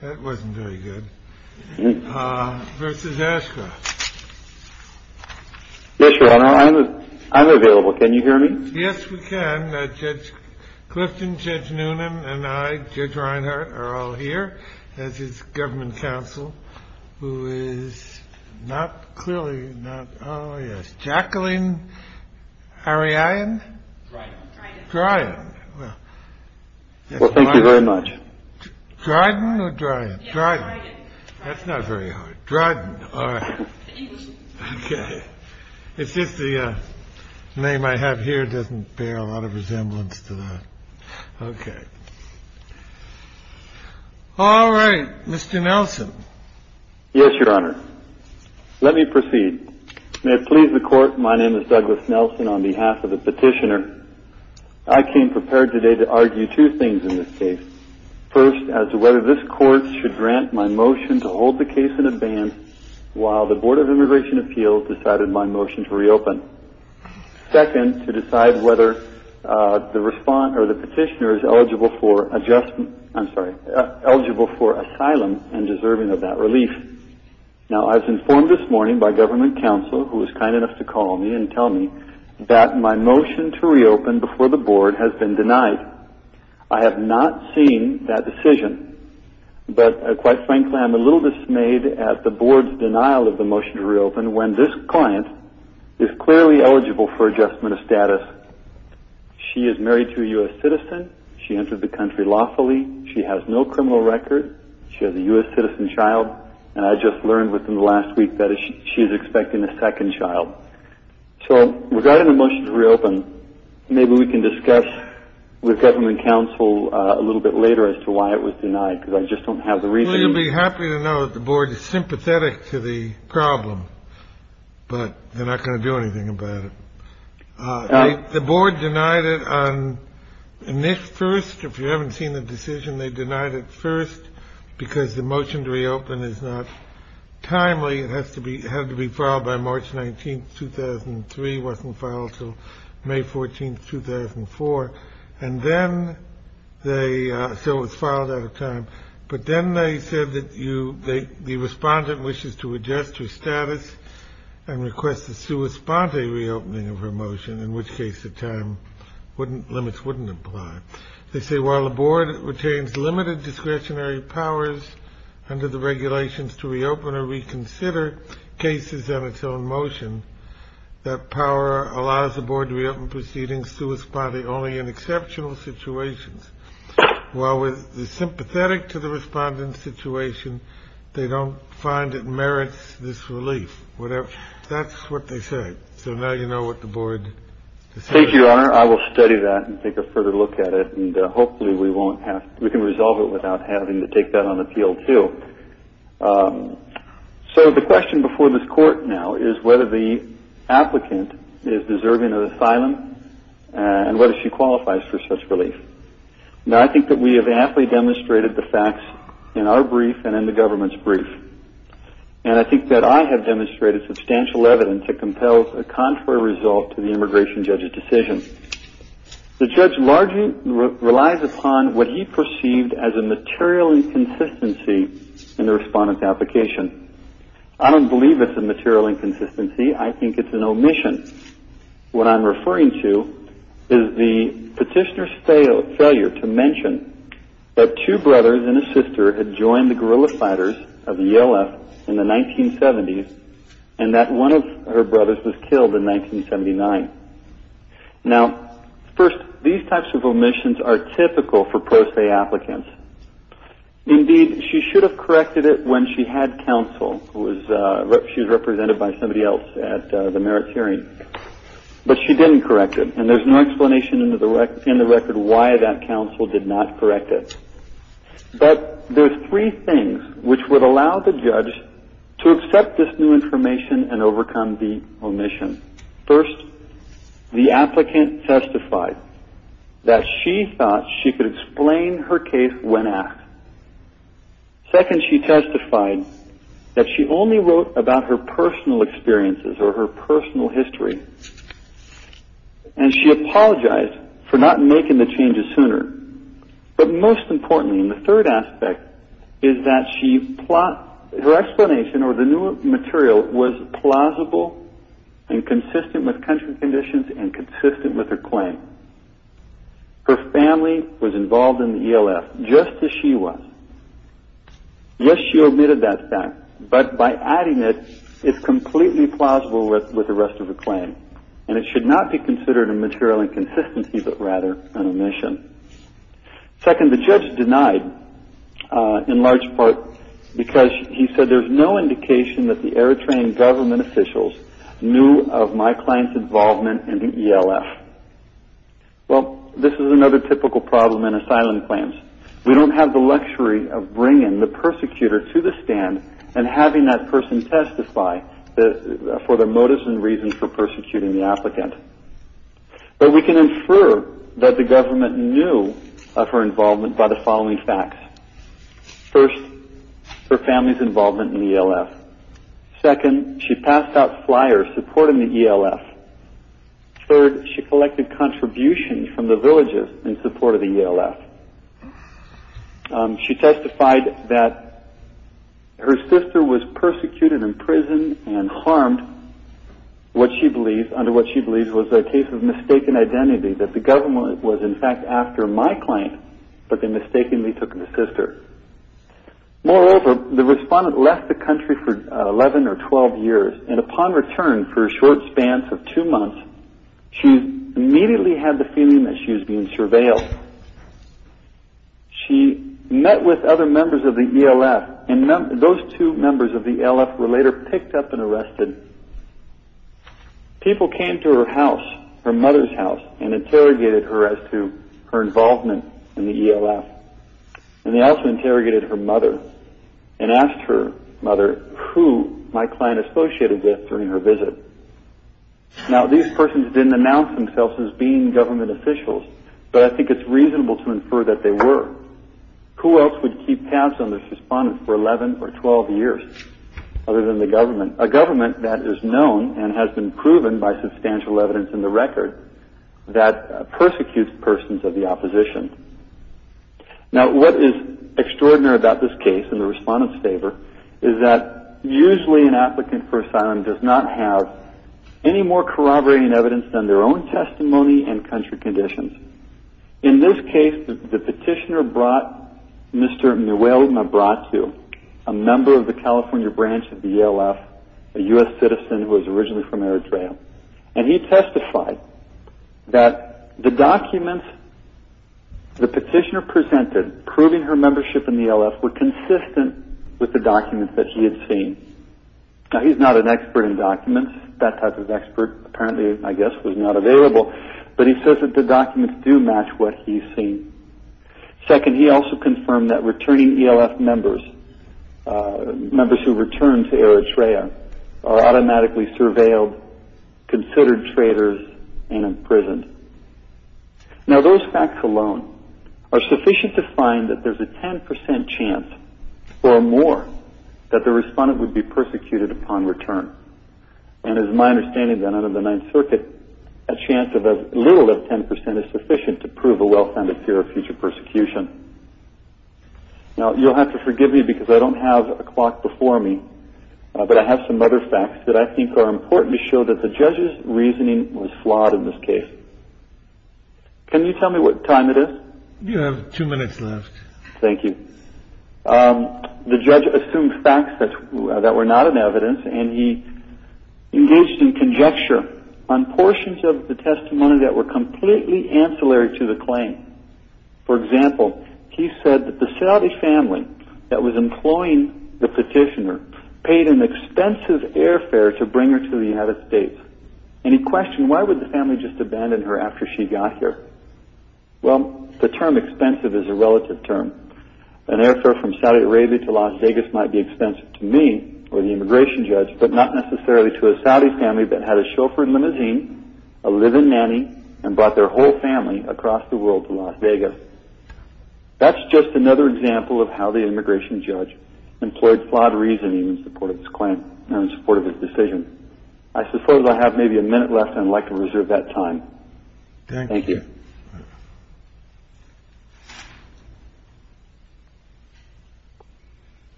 That wasn't very good. This is Ashcroft. Yes, your honor, I'm available. Can you hear me? Yes, we can. Judge Clifton, Judge Noonan and I, Judge Reinhardt are all here as his government counsel, who is not clearly not. Oh, yes. Jacqueline Ariane. Right. Right. Well, thank you very much. Dryden Dryden Dryden. That's not very hard. Dryden. OK. It's just the name I have here doesn't pay a lot of resemblance to that. OK. All right. Mr. Nelson. Yes, your honor. Let me proceed. May it please the court. My name is Douglas Nelson on behalf of the petitioner. I came prepared today to argue two things in this case. First, as to whether this court should grant my motion to hold the case in a ban while the Board of Immigration Appeals decided my motion to reopen. Second, to decide whether the respond or the petitioner is eligible for adjustment. I'm sorry, eligible for asylum and deserving of that relief. Now, I was informed this morning by government counsel who was kind enough to call me and tell me that my motion to reopen before the board has been denied. I have not seen that decision, but quite frankly, I am a little dismayed at the board's denial of the motion to reopen when this client is clearly eligible for adjustment of status. She is married to a U.S. citizen. She entered the country lawfully. She has no criminal record. She has a U.S. citizen child. And I just learned within the last week that she's expecting a second child. So regarding the motion to reopen, maybe we can discuss with government counsel a little bit later as to why it was denied. Because I just don't have the reason to be happy to know that the board is sympathetic to the problem, but they're not going to do anything about it. The board denied it on this first. If you haven't seen the decision, they denied it first because the motion to reopen is not timely. It has to be had to be filed by March 19th, 2003, wasn't filed till May 14th, 2004. And then they so it was filed out of time. But then they said that you the respondent wishes to adjust her status and request the sua sponte reopening of her motion, in which case the time wouldn't limits wouldn't apply. They say while the board retains limited discretionary powers under the regulations to reopen or reconsider cases on its own motion, that power allows the board to reopen proceedings to a spotty only in exceptional situations, while with the sympathetic to the respondent situation, they don't find it merits this relief, whatever. That's what they say. So now you know what the board. Thank you, Your Honor. I will study that and take a further look at it. And hopefully we won't have we can resolve it without having to take that on the field, too. So the question before this court now is whether the applicant is deserving of asylum and whether she qualifies for such relief. Now, I think that we have aptly demonstrated the facts in our brief and in the government's brief. And I think that I have demonstrated substantial evidence that compels a contrary result to the immigration judge's decision. The judge largely relies upon what he perceived as a material inconsistency in the respondent's application. I don't believe it's a material inconsistency. I think it's an omission. What I'm referring to is the petitioner's failure to mention that two brothers and a sister had joined the guerrilla fighters of the Yale F in the 1970s and that one of her brothers was killed in 1979. Now, first, these types of omissions are typical for post-A applicants. Indeed, she should have corrected it when she had counsel. She was represented by somebody else at the merits hearing. But she didn't correct it. And there's no explanation in the record why that counsel did not correct it. But there's three things which would allow the judge to accept this new information and overcome the omission. First, the applicant testified that she thought she could explain her case when asked. Second, she testified that she only wrote about her personal experiences or her personal history. And she apologized for not making the changes sooner. But most importantly, and the third aspect, is that her explanation or the new material was plausible and consistent with country conditions and consistent with her claim. Her family was involved in the ELF just as she was. Yes, she omitted that fact, but by adding it, it's completely plausible with the rest of her claim. And it should not be considered a material inconsistency, but rather an omission. Second, the judge denied in large part because he said there's no indication that the Airtrain government officials knew of my client's involvement in the ELF. Well, this is another typical problem in asylum claims. We don't have the luxury of bringing the persecutor to the stand and having that person testify for their motives and reasons for persecuting the applicant. But we can infer that the government knew of her involvement by the following facts. First, her family's involvement in the ELF. Second, she passed out flyers supporting the ELF. Third, she collected contributions from the villages in support of the ELF. She testified that her sister was persecuted in prison and harmed under what she believes was a case of mistaken identity, that the government was, in fact, after my claim, but they mistakenly took my sister. Moreover, the respondent left the country for 11 or 12 years, and upon return for a short span of two months, she immediately had the feeling that she was being surveilled. She met with other members of the ELF, and those two members of the ELF were later picked up and arrested. People came to her house, her mother's house, and interrogated her as to her involvement in the ELF. And they also interrogated her mother and asked her mother who my client associated with during her visit. Now, these persons didn't announce themselves as being government officials, but I think it's reasonable to infer that they were. Who else would keep tabs on this respondent for 11 or 12 years other than the government, a government that is known and has been proven by substantial evidence in the record that persecutes persons of the opposition? Now, what is extraordinary about this case in the respondent's favor is that usually an applicant for asylum does not have any more corroborating evidence than their own testimony and country conditions. In this case, the petitioner brought Mr. Muelma to, a member of the California branch of the ELF, a U.S. citizen who was originally from Eritrea, and he testified that the documents the petitioner presented proving her membership in the ELF were consistent with the documents that he had seen. Now, he's not an expert in documents. That type of expert apparently, I guess, was not available, but he says that the documents do match what he's seen. Second, he also confirmed that returning ELF members, members who returned to Eritrea, are automatically surveilled, considered traitors, and imprisoned. Now, those facts alone are sufficient to find that there's a 10% chance or more that the respondent would be persecuted upon return. And it is my understanding that under the Ninth Circuit, a chance of as little as 10% is sufficient to prove a well-founded fear of future persecution. Now, you'll have to forgive me because I don't have a clock before me, but I have some other facts that I think are important to show that the judge's reasoning was flawed in this case. Can you tell me what time it is? You have two minutes left. Thank you. The judge assumed facts that were not in evidence, and he engaged in conjecture on portions of the testimony that were completely ancillary to the claim. For example, he said that the Saadi family that was employing the petitioner paid an expensive airfare to bring her to the United States. And he questioned, why would the family just abandon her after she got here? Well, the term expensive is a relative term. An airfare from Saudi Arabia to Las Vegas might be expensive to me or the immigration judge, but not necessarily to a Saadi family that had a chauffeur and limousine, a live-in nanny, and brought their whole family across the world to Las Vegas. That's just another example of how the immigration judge employed flawed reasoning in support of his claim and in support of his decision. I suppose I have maybe a minute left, and I'd like to reserve that time. Thank you.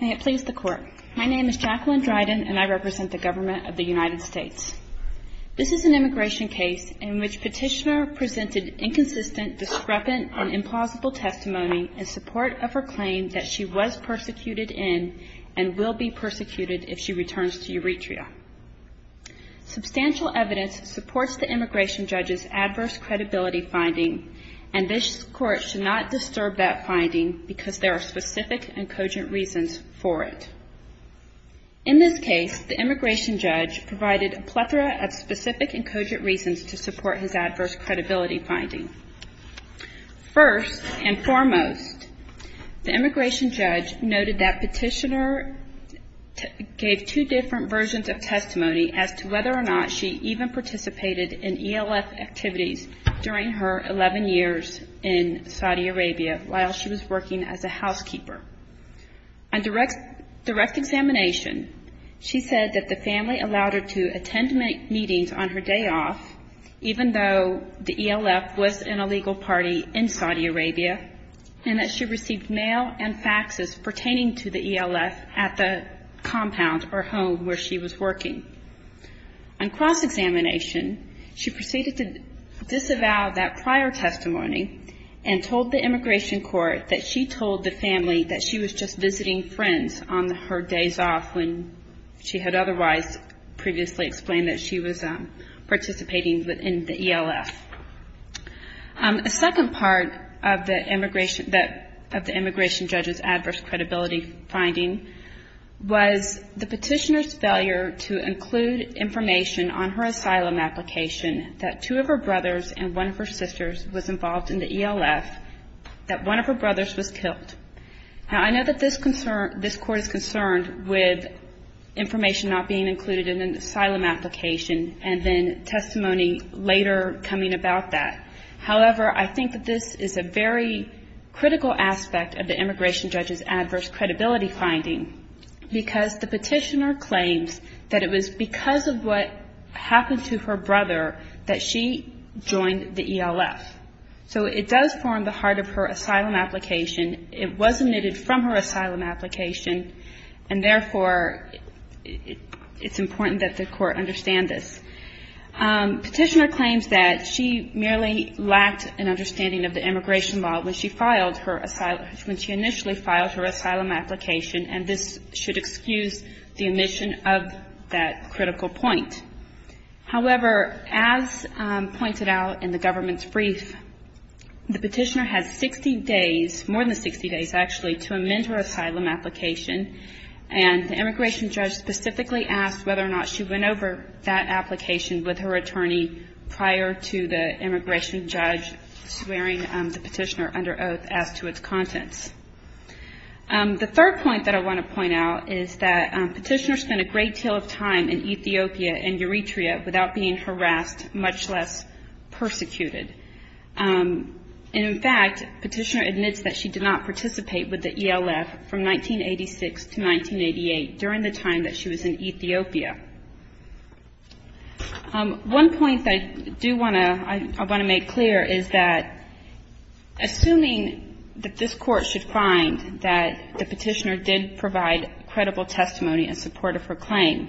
May it please the Court. My name is Jacqueline Dryden, and I represent the government of the United States. This is an immigration case in which the petitioner presented inconsistent, discrepant, and implausible testimony in support of her claim that she was persecuted in and will be persecuted if she returns to Euretria. Substantial evidence supports the immigration judge's adverse credibility finding, and this Court should not disturb that finding because there are specific and cogent reasons for it. In this case, the immigration judge provided a plethora of specific and cogent reasons to support his adverse credibility finding. First and foremost, the immigration judge noted that petitioner gave two different versions of testimony as to whether or not she even participated in ELF activities during her 11 years in Saudi Arabia while she was working as a housekeeper. On direct examination, she said that the family allowed her to attend meetings on her day off, even though the ELF was an illegal party in Saudi Arabia, and that she received mail and faxes pertaining to the ELF at the compound or home where she was working. On cross-examination, she proceeded to disavow that prior testimony and told the immigration court that she told the family that she was just visiting friends on her days off when she had otherwise previously explained that she was participating in the ELF. A second part of the immigration judge's adverse credibility finding was the petitioner's failure to include information on her asylum application that two of her brothers and one of her sisters was involved in the ELF, that one of her brothers was killed. Now, I know that this court is concerned with information not being included in an asylum application and then testimony later coming about that. However, I think that this is a very critical aspect of the immigration judge's adverse credibility finding because the petitioner claims that it was because of what happened to her brother that she joined the ELF. So it does form the heart of her asylum application. It was omitted from her asylum application, and therefore it's important that the court understand this. Petitioner claims that she merely lacked an understanding of the immigration law when she initially filed her asylum application, and this should excuse the omission of that critical point. However, as pointed out in the government's brief, the petitioner has 60 days, more than 60 days actually, to amend her asylum application, and the immigration judge specifically asked whether or not she went over that application with her attorney prior to the immigration judge swearing the petitioner under oath as to its contents. The third point that I want to point out is that petitioners spend a great deal of time in Ethiopia and Eritrea without being harassed, much less persecuted. And in fact, petitioner admits that she did not participate with the ELF from 1986 to 1988 during the time that she was in Ethiopia. One point I do want to make clear is that assuming that this Court should find that the petitioner did provide credible testimony in support of her claim,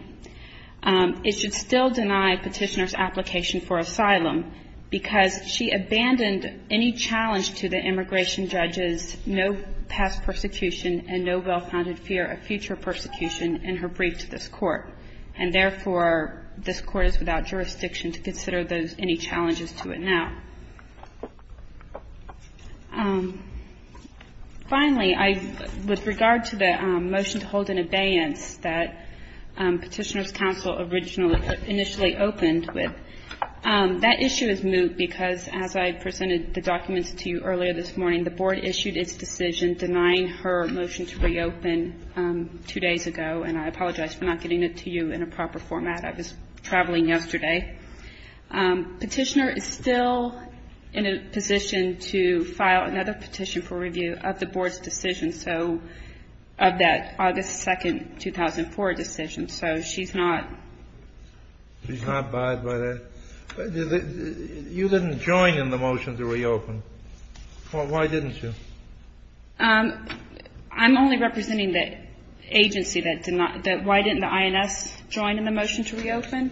it should still deny petitioner's application for asylum, because she abandoned any challenge to the immigration judge's no past persecution and no well-founded fear of future persecution in her brief to this Court. And therefore, this Court is without jurisdiction to consider those any challenges to it now. Finally, with regard to the motion to hold an abeyance that Petitioner's Counsel initially opened with, that issue is moot because as I presented the documents to you earlier this morning, the Board issued its decision denying her motion to reopen two days ago, and I apologize for not getting it to you in a proper format. I was traveling yesterday. Petitioner is still in a position to file another petition for review of the Board's decision, so of that August 2nd, 2004 decision. So she's not... You didn't join in the motion to reopen. Why didn't you? I'm only representing the agency that did not do it. Why didn't the INS join in the motion to reopen?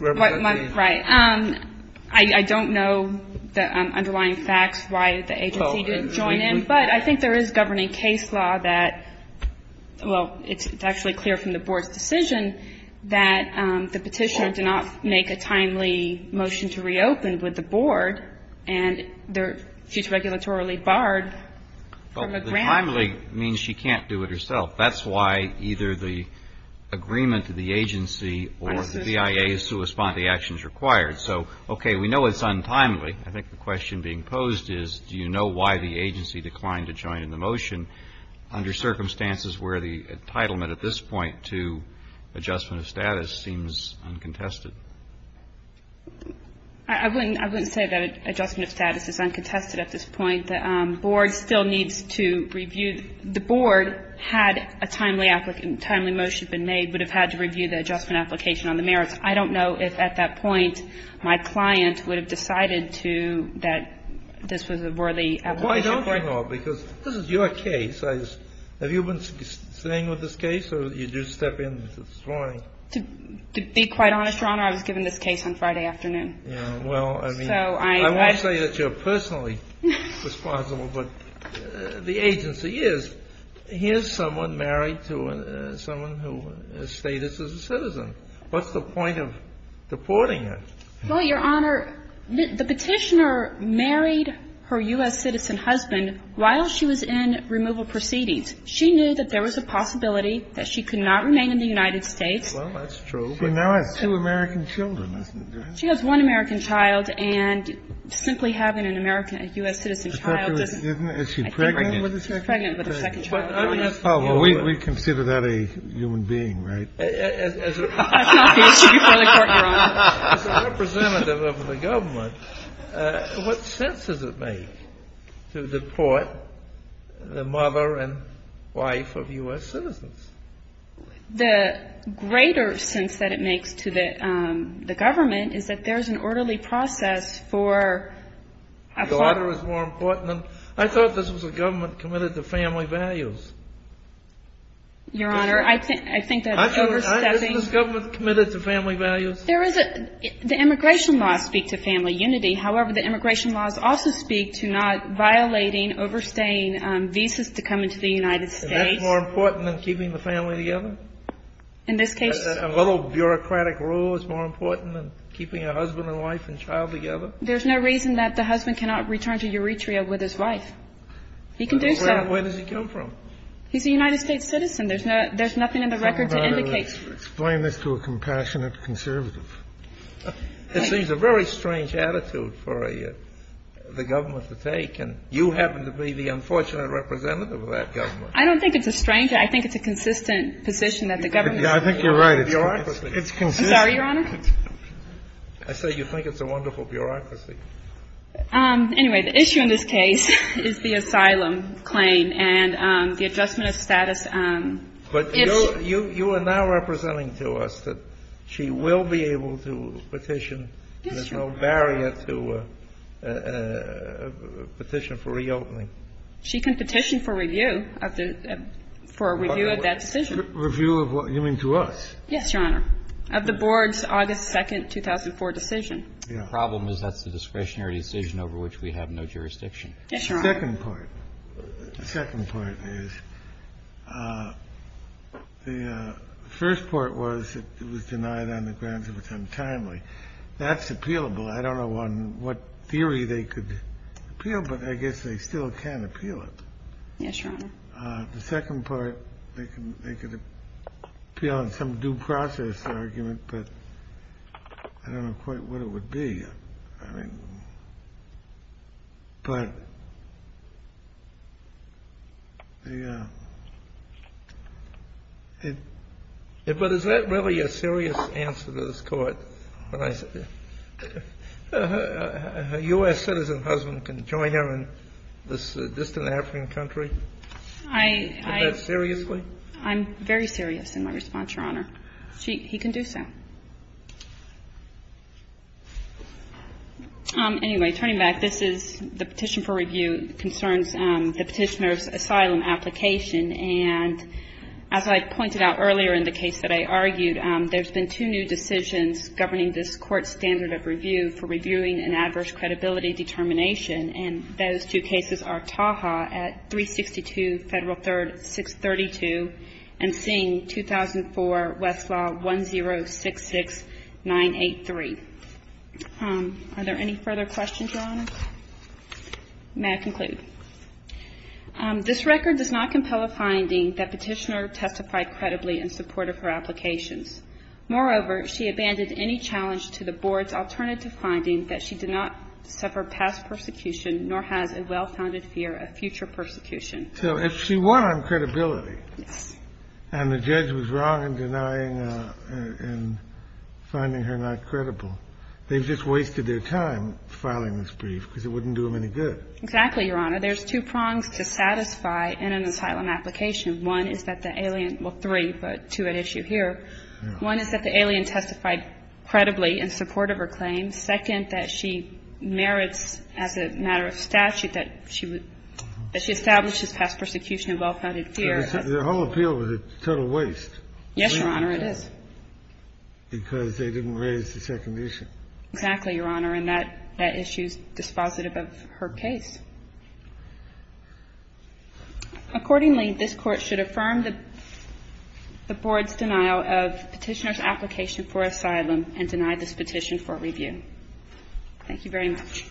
Right. I don't know the underlying facts why the agency didn't join in, but I think there is governing case law that, well, it's actually clear from the Board's decision that the Petitioner did not make a timely motion to reopen with the Board, and she's regulatorily barred from a grant. Well, the timely means she can't do it herself. That's why either the agreement to the agency or the BIA is to respond to the actions required. So, okay, we know it's untimely. I think the question being posed is do you know why the agency declined to join in the motion under circumstances where the entitlement at this point to adjustment of status seems uncontested? I wouldn't say that adjustment of status is uncontested at this point. The Board still needs to review. The Board, had a timely motion been made, would have had to review the adjustment application on the merits. I don't know if at that point my client would have decided that this was a worthy application. Why don't you know? Because this is your case. Have you been staying with this case, or did you step in this morning? To be quite honest, Your Honor, I was given this case on Friday afternoon. I won't say that you're personally responsible, but the agency is. Here's someone married to someone who has status as a citizen. What's the point of deporting her? Well, Your Honor, the Petitioner married her U.S. citizen husband while she was in removal proceedings. She knew that there was a possibility that she could not remain in the United States. Well, that's true. She now has two American children. She has one American child, and simply having an American U.S. citizen child doesn't Is she pregnant? She's pregnant with her second child. Oh, well, we consider that a human being, right? That's not the issue before the court, Your Honor. As a representative of the government, what sense does it make to deport the mother and wife of U.S. citizens? The greater sense that it makes to the government is that there's an orderly process for a father. The daughter is more important. I thought this was a government committed to family values. Your Honor, I think that overstepping Isn't this government committed to family values? There is a – the immigration laws speak to family unity. However, the immigration laws also speak to not violating, overstaying visas to come into the United States. And that's more important than keeping the family together? In this case A little bureaucratic rule is more important than keeping a husband and wife and child together? There's no reason that the husband cannot return to Euretria with his wife. He can do so. Where does he come from? He's a United States citizen. There's nothing in the record to indicate Explain this to a compassionate conservative. It seems a very strange attitude for the government to take. And you happen to be the unfortunate representative of that government. I don't think it's a stranger. I think it's a consistent position that the government I think you're right. It's consistent. I'm sorry, Your Honor? I said you think it's a wonderful bureaucracy. Anyway, the issue in this case is the asylum claim and the adjustment of status. But you are now representing to us that she will be able to petition. Yes, Your Honor. There's no barrier to a petition for reopening. She can petition for review of the – for a review of that decision. Review of what? You mean to us? Yes, Your Honor. Of the board's August 2nd, 2004 decision. The problem is that's a discretionary decision over which we have no jurisdiction. Yes, Your Honor. The second part. The second part is the first part was it was denied on the grounds of its untimely. That's appealable. I don't know on what theory they could appeal, but I guess they still can appeal it. Yes, Your Honor. The second part, they could appeal on some due process argument, but I don't know quite what it would be. I mean, but the – but is that really a serious answer to this Court? A U.S. citizen husband can join her in this distant African country? I – I – Is that seriously? I'm very serious in my response, Your Honor. He can do so. Anyway, turning back, this is – the petition for review concerns the petitioner's asylum application. And as I pointed out earlier in the case that I argued, there's been two new decisions governing this Court's standard of review for reviewing an adverse credibility determination. And those two cases are Taha at 362 Federal 3rd, 632, and Singh, 2004, Westlaw 1066983. Are there any further questions, Your Honor? May I conclude? This record does not compel a finding that petitioner testified credibly in support of her applications. Moreover, she abandoned any challenge to the Board's alternative finding that she did not suffer past persecution nor has a well-founded fear of future persecution. So if she won on credibility and the judge was wrong in denying her and finding her not credible, they just wasted their time filing this brief because it wouldn't do them any good. Exactly, Your Honor. There's two prongs to satisfy in an asylum application. One is that the alien – well, three, but two at issue here. One is that the alien testified credibly in support of her claims. And second, that she merits as a matter of statute that she would – that she established this past persecution of well-founded fear. The whole appeal was a total waste. Yes, Your Honor, it is. Because they didn't raise the second issue. Exactly, Your Honor. And that issue is dispositive of her case. Accordingly, this Court should affirm the Board's denial of petitioner's application and deny this petition for review. Thank you very much.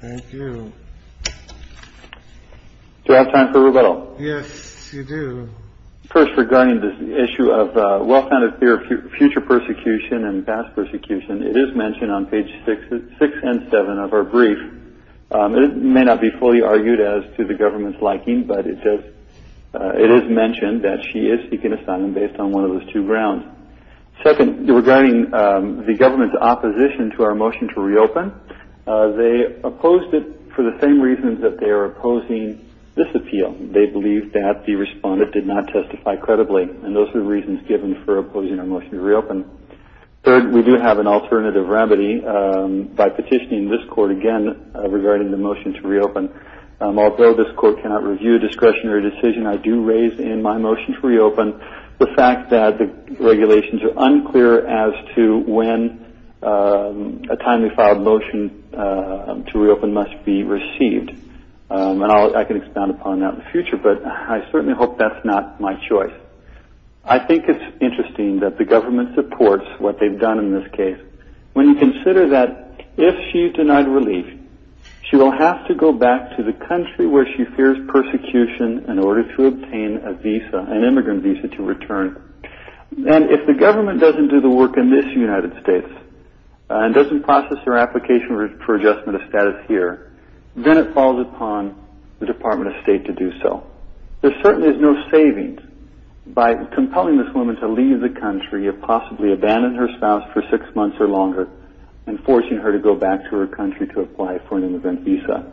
Thank you. Do I have time for rebuttal? Yes, you do. First, regarding this issue of well-founded fear of future persecution and past persecution, it is mentioned on pages 6 and 7 of her brief. It may not be fully argued as to the government's liking, but it does – it is mentioned that she is seeking asylum based on one of those two grounds. Second, regarding the government's opposition to our motion to reopen, they opposed it for the same reasons that they are opposing this appeal. They believe that the respondent did not testify credibly. And those are the reasons given for opposing our motion to reopen. Third, we do have an alternative remedy by petitioning this Court again regarding the motion to reopen. Although this Court cannot review a discretionary decision, I do raise in my motion to reopen the fact that the regulations are unclear as to when a timely filed motion to reopen must be received. And I can expound upon that in the future, but I certainly hope that's not my choice. I think it's interesting that the government supports what they've done in this case. When you consider that if she's denied relief, she will have to go back to the country where she fears persecution in order to obtain a visa, an immigrant visa to return. And if the government doesn't do the work in this United States and doesn't process her application for adjustment of status here, then it falls upon the Department of State to do so. There certainly is no savings by compelling this woman to leave the country, possibly abandon her spouse for six months or longer, and forcing her to go back to her country to apply for an immigrant visa.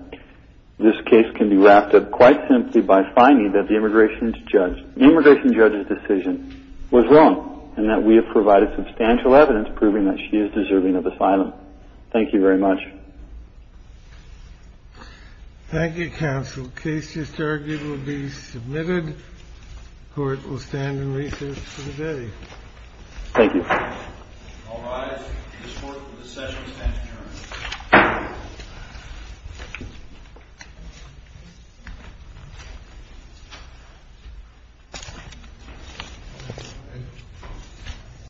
This case can be wrapped up quite simply by finding that the immigration judge's decision was wrong and that we have provided substantial evidence proving that she is deserving of asylum. Thank you very much. Thank you, counsel. The case just argued will be submitted. The Court will stand in recess for the day. Thank you. All rise. This court will recess and stand adjourned.